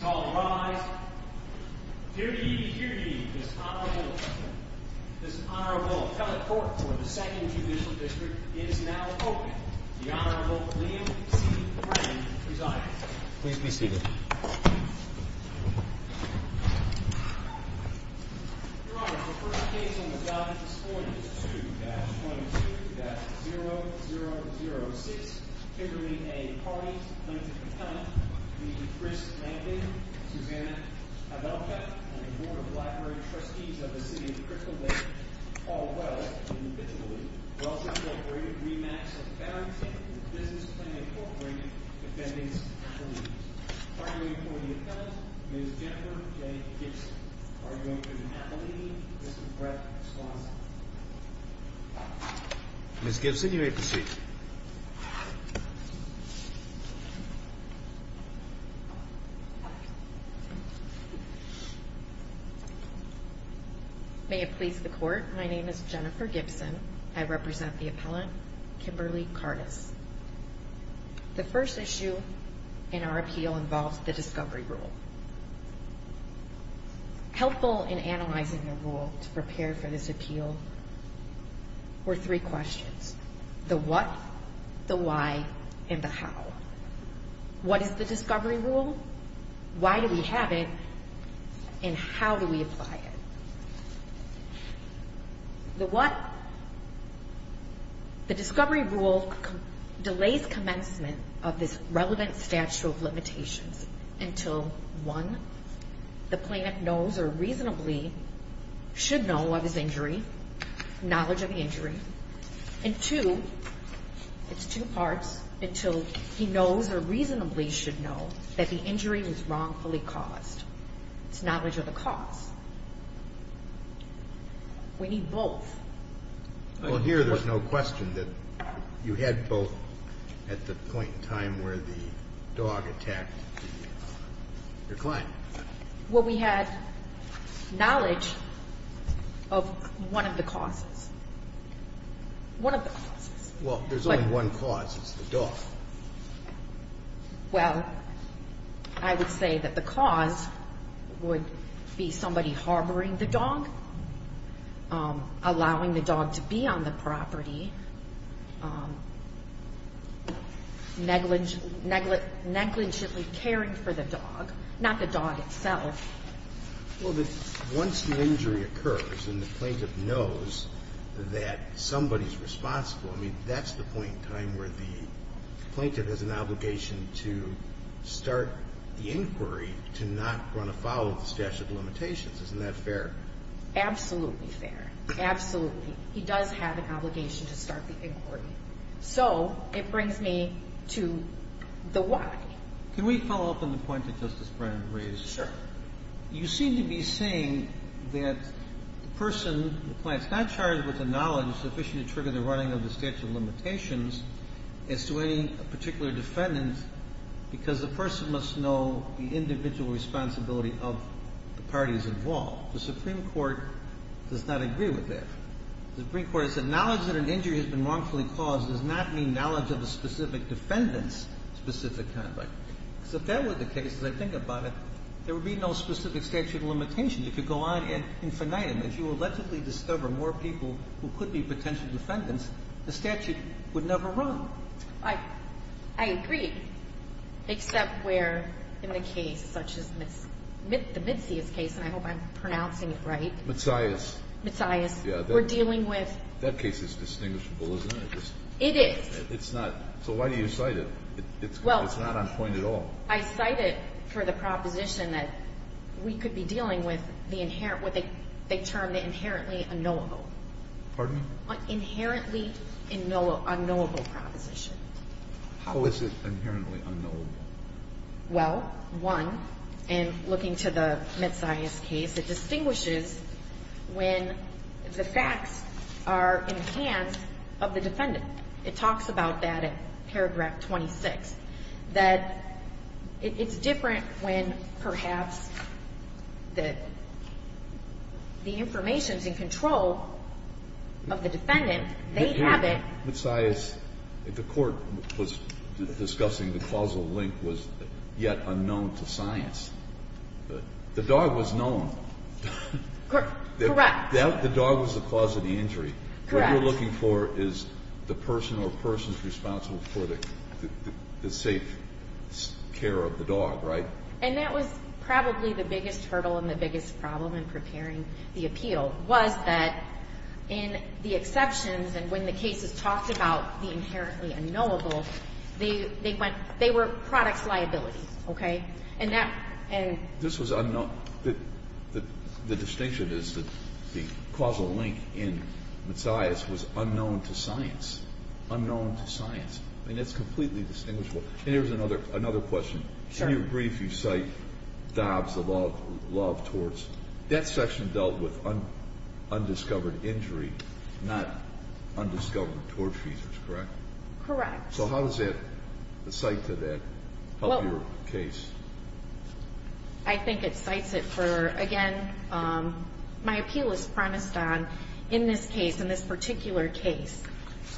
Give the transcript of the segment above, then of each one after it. Call to rise. Dear ye, dear ye, this Honorable... This Honorable Appellate Court for the Second Judicial District is now open. The Honorable Liam C. Brennan presides. Please be seated. Your Honor, the first case on the job this morning is 2-22-0006 triggering a party-linked appellant to be Chris Lamping, Susanna Adelka, and the Board of Library Trustees of the City of Crystal Lake all well individually. We also incorporated rematchs of Barrington and Business Plan Incorporated defendants and police. Partnering for the appellant, Ms. Jennifer J. Gibson. Are you going to do that for me? Mr. Brett Swanson. Ms. Gibson, you may proceed. May it please the Court. My name is Jennifer Gibson. I represent the appellant, Kimberly Curtis. The first issue in our appeal involves the discovery rule. Helpful in analyzing the rule to prepare for this appeal and the how. What is the discovery rule? What is the discovery rule? Why do we have it? And how do we apply it? The discovery rule delays commencement of this relevant statute of limitations until one, the plaintiff knows or reasonably should know of his injury, knowledge of the injury, and two, it's two parts, until he knows or reasonably should know that the injury was wrongfully caused. It's knowledge of the cause. We need both. Well, here there's no question that you had both at the point in time where the dog attacked your client. Well, we had knowledge of one of the causes. One of the causes. Well, there's only one cause. It's the dog. Well, I would say that the cause would be somebody harboring the dog, allowing the dog to be on the property, negligently caring for the dog, not the dog itself. Well, once the injury occurs and the plaintiff knows that somebody's responsible, I mean, that's the point in time where the plaintiff has an obligation to start the inquiry to not run afoul of the statute of limitations. Isn't that fair? Absolutely fair. Absolutely. He does have an obligation to start the inquiry. So, it brings me to the why. Can we follow up on the point that Justice Breyer raised? Sure. You seem to be saying that the person, the client, is not charged with the knowledge sufficient to trigger the running of the statute of limitations as to any particular defendant because the person must know the individual responsibility of the parties involved. The Supreme Court does not agree with that. The Supreme Court has said knowledge that an injury has been wrongfully caused does not mean knowledge of the specific defendant's specific conduct. Because if that were the case, as I think about it, there would be no specific statute of limitation. You could go on and as you allegedly discover more people who could be potential defendants, the statute would never run. I agree. Except where in the case such as the Midsias case, and I hope I'm pronouncing it right. Midsias. Midsias. We're dealing with... That case is distinguishable, isn't it? It is. It's not. So why do you cite it? It's not on point at all. I cite it for the proposition that we could be dealing with what they term the inherently unknowable. Pardon? Inherently unknowable proposition. How is it inherently unknowable? Well, one, in looking to the Midsias case, it distinguishes when the facts are in the hands of the defendant. It talks about that in paragraph 26. That it's different when perhaps the information is in control of the defendant. They have it. Midsias, the court was discussing the causal link was yet unknown to science. The dog was known. Correct. The dog was the cause of the injury. Correct. What we're looking for is the person or persons responsible for the safe care of the dog, right? And that was probably the biggest hurdle and the biggest problem in preparing the appeal was that in the exceptions and when the cases talked about the inherently unknowable, they were products liability. Okay? This was unknown. The distinction is that the causal link in Midsias was unknown to science. Unknown to science. And it's completely distinguishable. And here's another question. Do you agree if you cite Dobbs, the law of torts, that section dealt with undiscovered injury, not undiscovered tort features, correct? Correct. So how does the cite to that help your case? I think it cites it for again, my appeal is premised on in this case, in this particular case,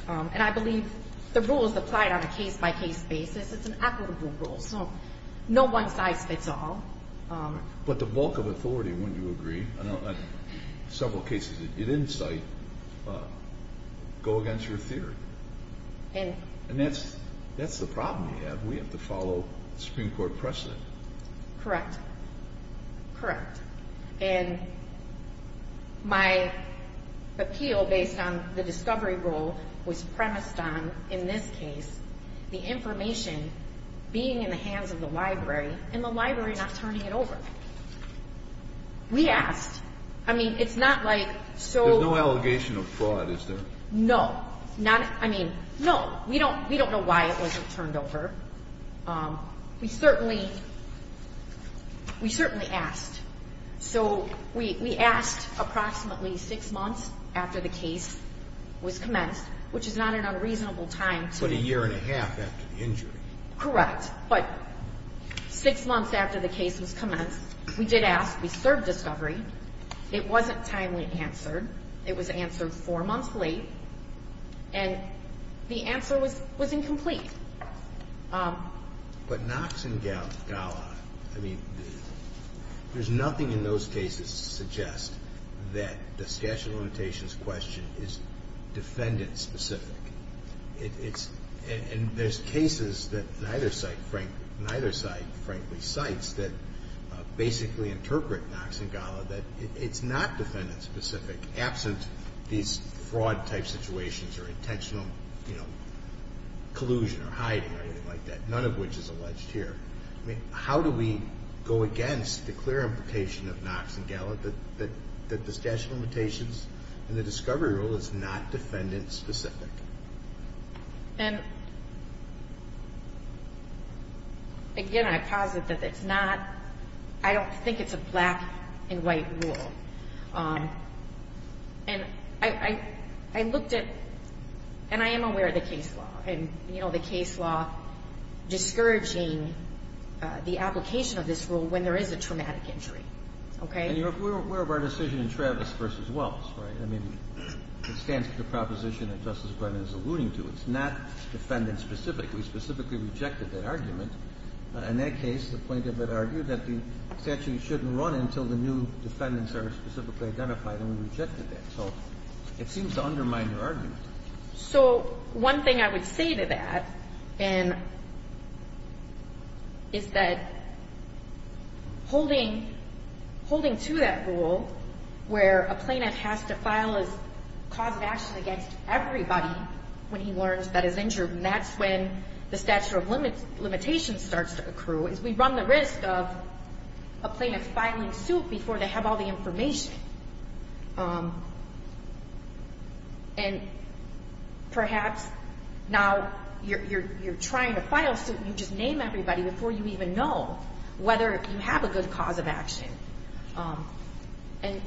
and I believe the rule is applied on a case-by-case basis. It's an equitable rule, so no one size fits all. But the bulk of authority, wouldn't you agree, in several cases you didn't cite, go against your theory. And that's the problem you have. We have to follow Supreme Court precedent. Correct. Correct. And my appeal based on the discovery rule was premised on in this case, the information being in the hands of the library, and the library not turning it over. We asked. I mean, it's not like... There's no allegation of fraud, is there? No. I mean, no. We don't know why it wasn't turned over. We certainly asked. So we asked approximately six months after the case was commenced, which is not an unreasonable time to... But a year and a half after the injury. Correct. But six months after the case was commenced, we did ask. We served discovery. It wasn't timely answered. It was answered four months late. And the answer was incomplete. But Knox and Galla, I mean, there's nothing in those cases to suggest that the statute of limitations question is defendant-specific. It's... And there's cases that neither side frankly cites that basically interpret Knox and Galla that it's not defendant-specific, absent these fraud-type situations or intentional, you know, collusion or hiding or anything like that, none of which is alleged here. I mean, how do we go against the clear implication of Knox and Galla that the statute of limitations and the discovery rule is not defendant-specific? And... Again, I posit that it's not... I don't think it's a black and white rule. And I looked at... And I am aware of the case law. And, you know, the case law discouraging the application of this rule when there is a traumatic injury. Okay? And you're aware of our decision in Travis v. Wells, right? I mean, it stands to the proposition that Justice Brennan is alluding to. It's not defendant-specific. We specifically rejected that argument. In that case, the plaintiff had argued that the statute shouldn't run until the new defendants are specifically identified. And we rejected that. So it seems to undermine your argument. So one thing I would say to that, and... is that holding to that rule, where a plaintiff has to file his cause of action against everybody when he learns that he's injured, and that's when the statute of limitations starts to accrue, is we run the risk of a plaintiff filing suit before they have all the information. Um... And perhaps now you're trying to file suit, and you just name everybody before you even know whether you have a good cause of action. And...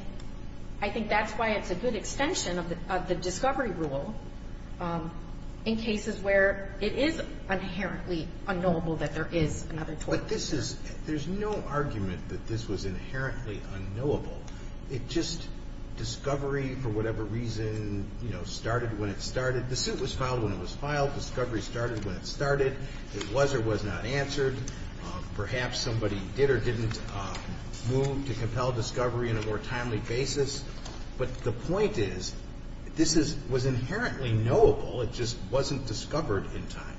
I think that's why it's a good extension of the discovery rule in cases where it is inherently unknowable that there is another... But this is... There's no argument that this was inherently unknowable. It just... Discovery, for whatever reason, you know, started when it started. The suit was filed when it was filed. Discovery started when it started. It was or was not answered. Perhaps somebody did or didn't move to compel discovery in a more timely basis. But the point is this was inherently knowable. It just wasn't discovered in time.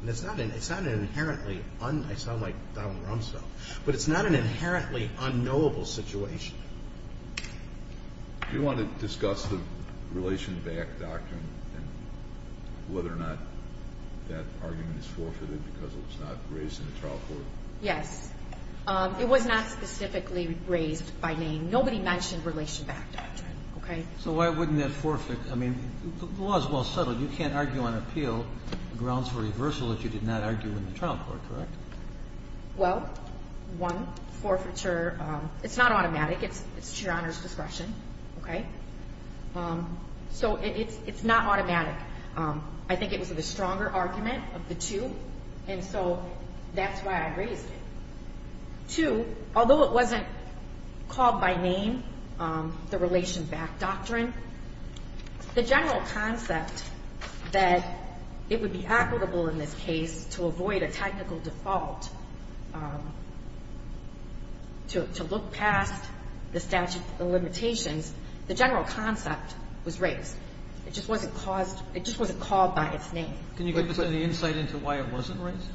And it's not an inherently un... I sound like Donald Rumsfeld. But it's not an inherently unknowable situation. Do you want to discuss the Relation Back Doctrine and whether or not that argument is forfeited because it was not raised in the trial court? Yes. It was not specifically raised by name. Nobody mentioned Relation Back Doctrine, okay? So why wouldn't that forfeit? I mean, the law is well settled. You can't argue on appeal grounds for reversal if you did not argue in the trial court, correct? Well, one, forfeiture... It's not automatic. It's to Your Honor's discretion, okay? So it's not automatic. I think it was the stronger argument of the two. And so that's why I raised it. Two, although it wasn't called by name, the Relation Back Doctrine, the general concept that it would be equitable in this case to avoid a technical default to look past the statute of limitations, the general concept was raised. It just wasn't called by its name. Can you give us any insight into why it wasn't raised?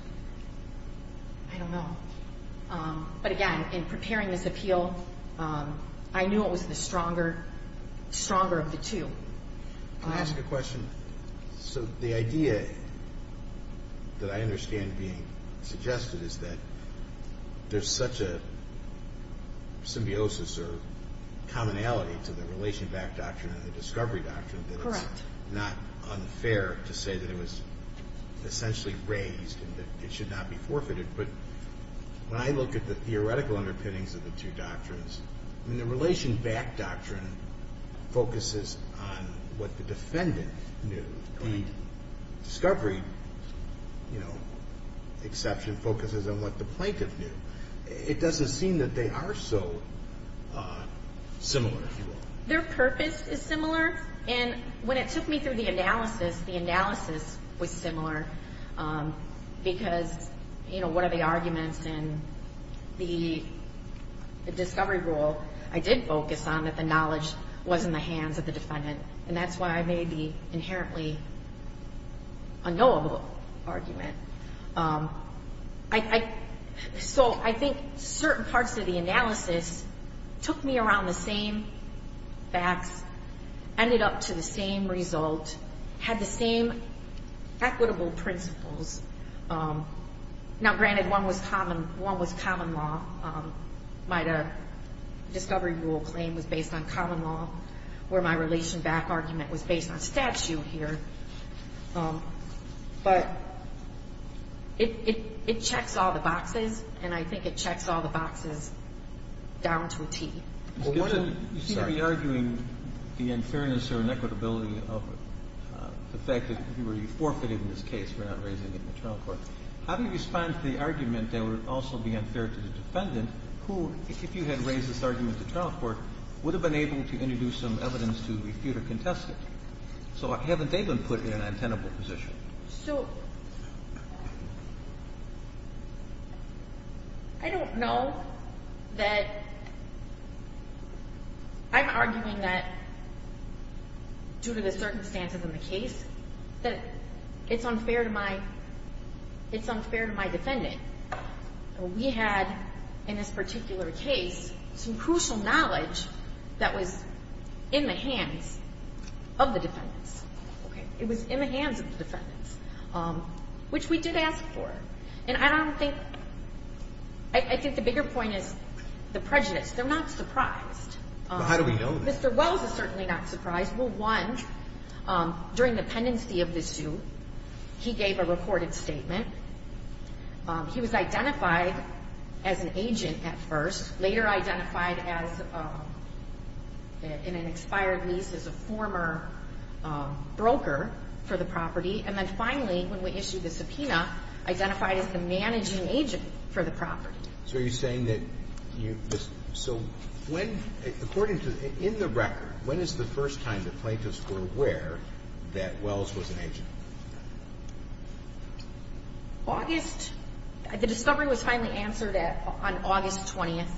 I don't know. But again, in preparing this appeal, I knew it was the stronger of the two. Can I ask a question? So the idea that I understand being raised is that there's such a symbiosis or commonality to the Relation Back Doctrine and the Discovery Doctrine that it's not unfair to say that it was essentially raised and that it should not be forfeited. But when I look at the theoretical underpinnings of the two doctrines, the Relation Back Doctrine focuses on what the defendant knew. The Discovery Doctrine exception focuses on what the plaintiff knew. It doesn't seem that they are so similar, if you will. Their purpose is similar, and when it took me through the analysis, the analysis was similar because what are the arguments in the Discovery Rule, I did focus on that the knowledge was in the hands of the defendant, and that's why I may be the most knowledgeable argument. So I think certain parts of the analysis took me around the same facts, ended up to the same result, had the same equitable principles. Now granted one was common law. My Discovery Rule claim was based on common law, where my Relation Back argument was based on statute here. But it checks all the boxes, and I think it checks all the boxes down to a T. You seem to be arguing the unfairness or inequitability of the fact that you were forfeited in this case for not raising it in the trial court. How do you respond to the argument that would also be unfair to the defendant, who if you had raised this argument in the trial court, would have been able to introduce some evidence to refute or contest it? So haven't they been put in an untenable position? I don't know that I'm arguing that due to the circumstances in the case that it's unfair to my defendant. We had in this particular case some crucial knowledge that was in the hands of the defendants. It was in the hands of the defendants, which we did ask for. And I don't think I think the bigger point is the prejudice. They're not surprised. How do we know that? Mr. Wells is certainly not surprised. Well, one, during the pendency of the suit, he gave a reported statement. He was identified as an agent at first, later identified as in an expired lease as a former broker for the property, and then finally, when we issued the subpoena, identified as the managing agent for the property. So are you saying that you so when, according to, in the record, when is the first time the plaintiffs were aware that Wells was an agent? August the discovery was finally answered on August 20th.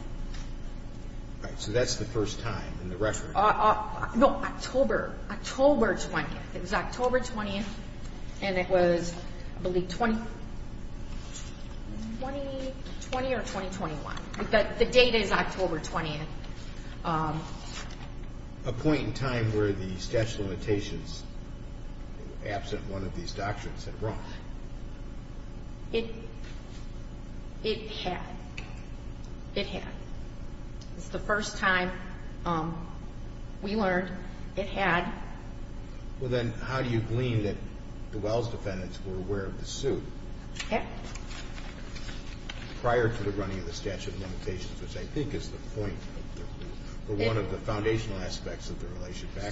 So that's the first time in the record. No, October. October 20th. It was October 20th and it was, I believe, 2020 or 2021. The date is October 20th. A point in time where the statute of limitations absent one of these doctrines had run. It had. It had. It's the first time we learned it had. Well then, how do you glean that the Wells defendants were aware of the suit prior to the running of the statute of limitations, which I think is the point or one of the foundational aspects of the relationship.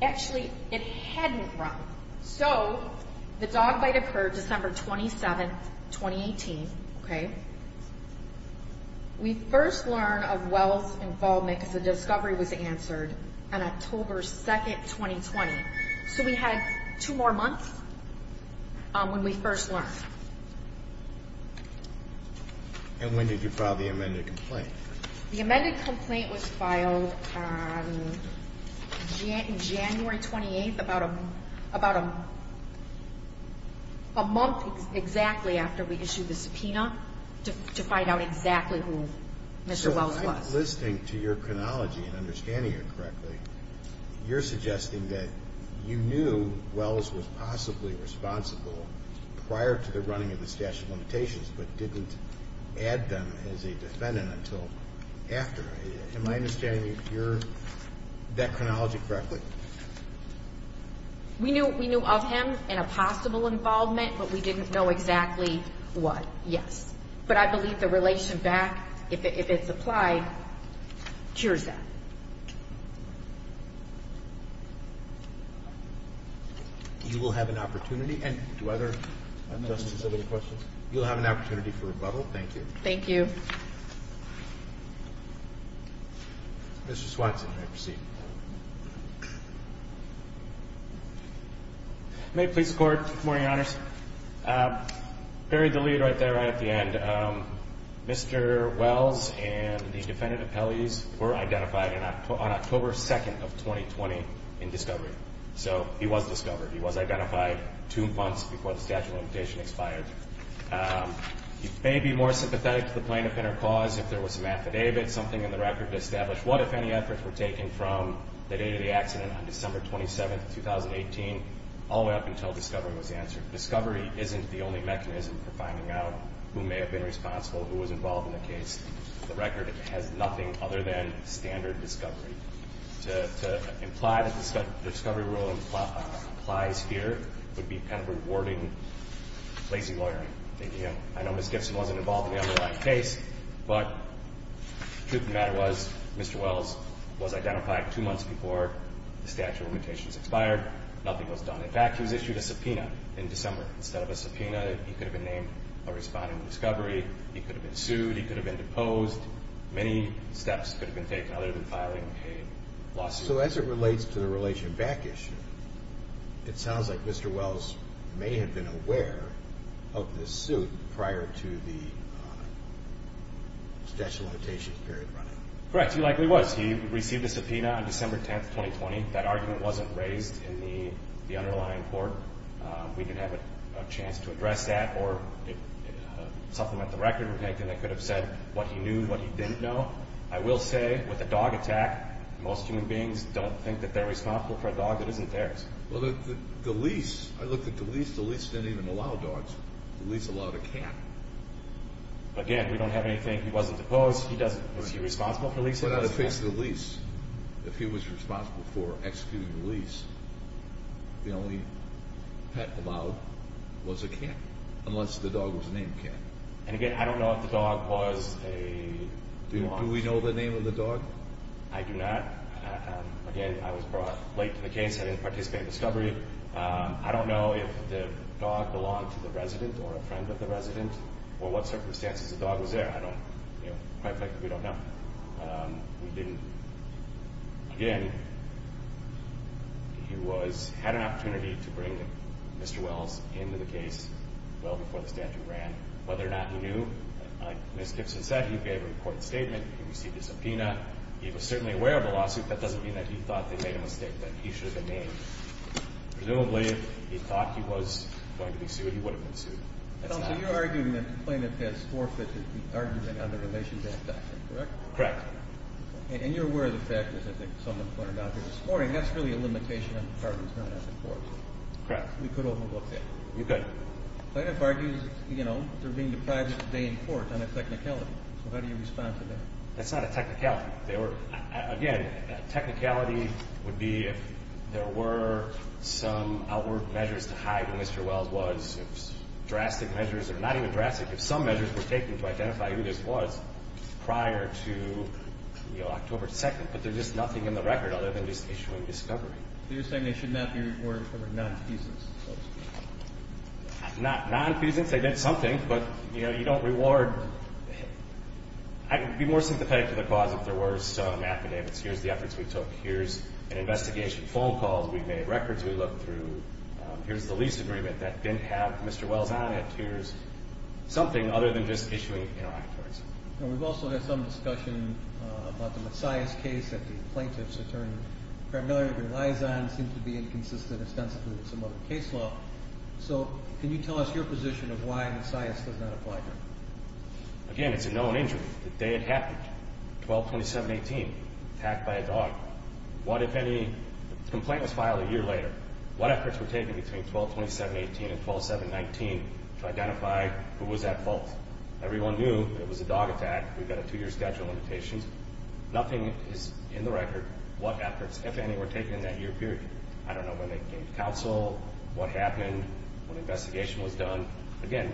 Actually, it hadn't run. So the dog bite occurred December 27th, 2018. We first learn of Wells' involvement because the discovery was answered on October 2nd, 2020. So we had two more months when we first learned. And when did you file the amended complaint? The amended complaint was filed January 28th, about a month exactly after we issued the subpoena to find out exactly who Mr. Wells was. So if I'm listening to your chronology and understanding it correctly, you're suggesting that you knew Wells was possibly responsible prior to the running of the statute of limitations, but didn't add them as a defendant until after. Am I understanding that chronology correctly? We knew of him and a possible involvement, but we didn't know exactly what, yes. But I believe the relation back, if it's applied, cures that. You will have an opportunity, and do other Justices have any questions? You'll have an opportunity for rebuttal. Thank you. Thank you. Mr. Swanson, you may proceed. May it please the Court. Good morning, Your Honors. Buried the lead right there, right at the end. Mr. Wells and the defendant appellees were identified on October 2nd of 2020 in discovery. So he was discovered. He was identified two months before the statute of limitations He may be more sympathetic to the plaintiff and her cause if there was an affidavit, something in the record to establish what if any efforts were taken from the date of the accident on December 27th, 2018 all the way up until discovery was answered. Discovery isn't the only mechanism for finding out who may have been responsible who was involved in the case. The record has nothing other than standard discovery. To imply that the discovery rule applies here would be kind of rewarding lazy lawyering. I know Ms. Gibson wasn't involved in the underlying case, but the truth of the matter was Mr. Wells was identified two months before the statute of limitations expired. Nothing was done. In fact, he was issued a subpoena in December. Instead of a subpoena, he could have been named a respondent of discovery. He could have been sued. He could have been deposed. Many steps could have been taken other than filing a lawsuit. So as it relates to the relation back issue, it sounds like Mr. Wells may have been aware of this suit prior to the statute of limitations period running. Correct. He likely was. He received a subpoena on December 10, 2020. That argument wasn't raised in the underlying court. We didn't have a chance to address that or supplement the record or anything that could have said what he knew, what he didn't know. I will say, with a dog attack, most human beings don't think that they're responsible for a dog that isn't theirs. Well, the lease... I looked at the lease. The lease didn't even allow dogs. The lease allowed a cat. Again, we don't have anything. He wasn't deposed. He doesn't... Was he responsible for leasing? But on the face of the lease, if he was responsible for executing the lease, the only pet allowed was a cat, unless the dog was named Cat. And again, I don't know if the dog was a... Do we know the name of the dog? I do not. Again, I was brought late to the case. I didn't participate in discovery. I don't know if the dog belonged to the resident or a friend of the resident or what circumstances the dog was there. I don't... Quite frankly, we don't know. We didn't... Again, he was... had an opportunity to bring Mr. Wells into the case well before the statute ran, whether or not he knew. Like Ms. Gibson said, he gave a report statement. He received a subpoena. He was certainly aware of the lawsuit. That doesn't mean that he thought they made a mistake, that he should have been named. Presumably, if he thought he was going to be sued, he would have been sued. That's not... So you're arguing that Plaintiff has forfeited the argument on the relationship doctrine, correct? Correct. And you're aware of the fact that I think someone pointed out here this morning, that's really a limitation on the parties known as the courts. Correct. We could overlook that. You could. Plaintiff argues, you know, they're being deprived of a day in court on a technicality. So how do you respond to that? That's not a technicality. They were... Again, a technicality would be if there were some outward measures to hide when Mr. Wells was. Drastic measures, or not even drastic. If some measures were taken to identify who this was prior to October 2nd, but there's just nothing in the record other than just issuing discovery. So you're saying they should not be rewarded for non-feasance? Not non-feasance. They did something, but, you know, you don't reward... I'd be more sympathetic to the cause if there were some significant activity. Here's the efforts we took. Here's an investigation. Phone calls. We've made records. We looked through. Here's the lease agreement that didn't have Mr. Wells on it. Here's something other than just issuing interrogatories. We've also had some discussion about the Messiahs case that the plaintiff's attorney, Cranberry, relies on. It seems to be inconsistent extensively with some other case law. So, can you tell us your position of why Messiahs does not apply here? Again, it's a known injury. The day it happened. 12-27-18. Attacked by a dog. What, if any... The complaint was filed a year later. What efforts were taken between 12-27-18 and 12-7-19 to identify who was at fault? Everyone knew it was a dog attack. We've got a two-year schedule limitation. Nothing is in the record. What efforts, if any, were taken in that year period? I don't know when they came to counsel, what happened, what investigation was done. Again,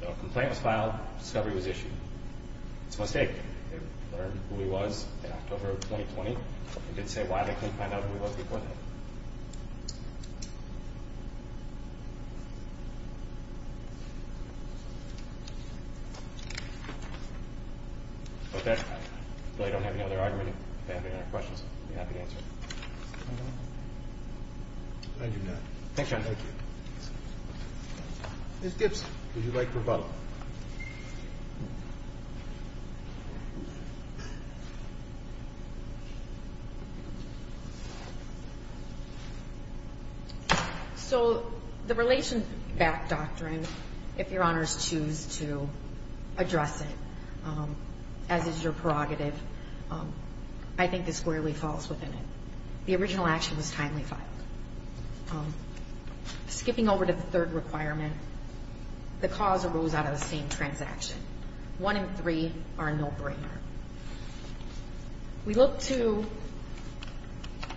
the complaint was filed, discovery was issued. It's a mistake. They learned who he was in October of 2020. They didn't say why they couldn't find out who he was before that. With that, I really don't have any other argument. If you have any other questions, I'll be happy to answer. I do not. Thank you. Ms. Gibson, would you like to rebuttal? So, the relation back doctrine, if Your Honors choose to address it, as is your prerogative, I think this squarely falls within it. The original action was timely filed. Skipping over to the third requirement, the cause arose out of the same transaction. One and three are a no-brainer. We look to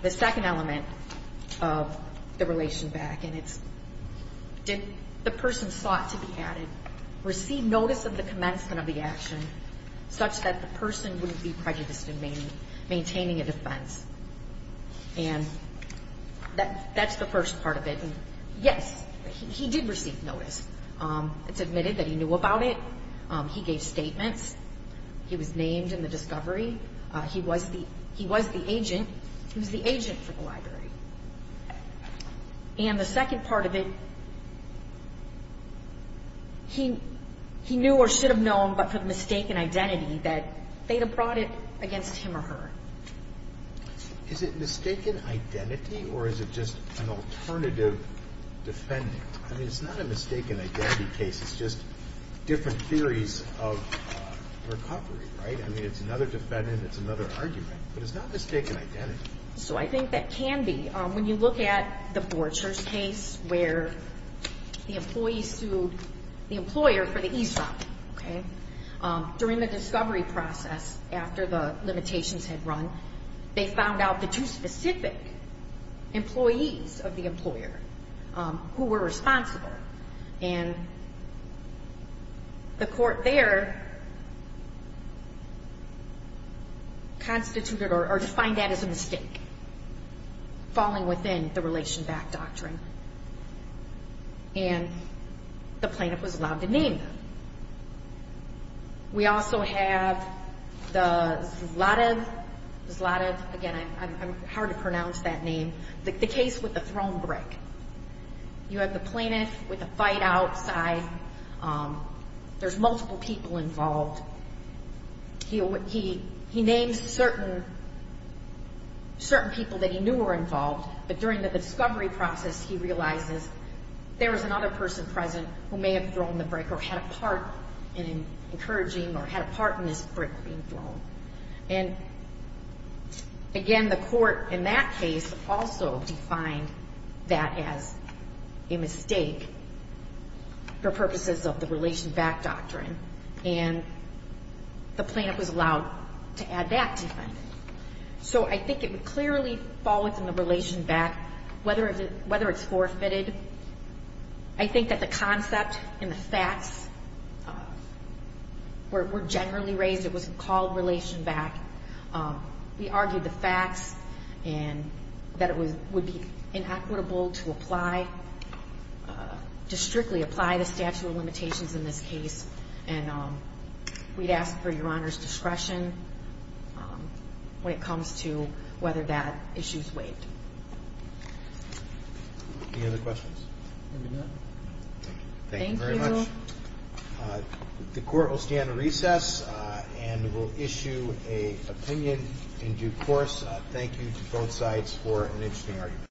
the second element of the relation back, and it's did the person sought to be added receive notice of the commencement of the action such that the person wouldn't be prejudiced in maintaining a defense? And that's the first part of it. Yes, he did receive notice. It's admitted that he knew about it. He gave statements. He was named in the discovery. He was the agent. He was the agent for the library. And the second part of it, he knew or should have known, but for the mistaken identity that they had brought it against him or her. Is it mistaken identity, or is it just an alternative defendant? I mean, it's not a mistaken identity case. It's just different theories of recovery, right? I mean, it's another defendant. It's another argument. But it's not mistaken identity. So I think that can be. When you look at the Borchers case where the employee sued the employer for the ESOP, during the discovery process, after the limitations had run, they found out the two specific employees of the employer who were responsible. And the court there constituted or defined that as a mistake, falling within the relation back doctrine. And the plaintiff was allowed to name them. We also have the Zlativ. Zlativ, again, I'm hard to pronounce that name. The case with the thrown brick. You have the plaintiff with the fight outside. There's multiple people involved. He named certain people that he knew were involved, but during the discovery process, he realizes there was another person present who may have thrown the brick or had a part in encouraging or had a part in this brick being thrown. And again, the court, in that case, also defined that as a mistake for purposes of the relation back doctrine. And the plaintiff was allowed to add that defendant. So I think it would clearly fall within the relation back whether it's forfeited. I think that the concept and the facts were generally raised. It was called relation back. We argued the facts and that it would be inequitable to apply, to strictly apply the statute of limitations in this case, and we'd ask for Your Honor's discretion when it comes to whether that issue is waived. Any other questions? Thank you very much. The court will stand recess and will issue an opinion in due course. Thank you to both sides for an interesting argument.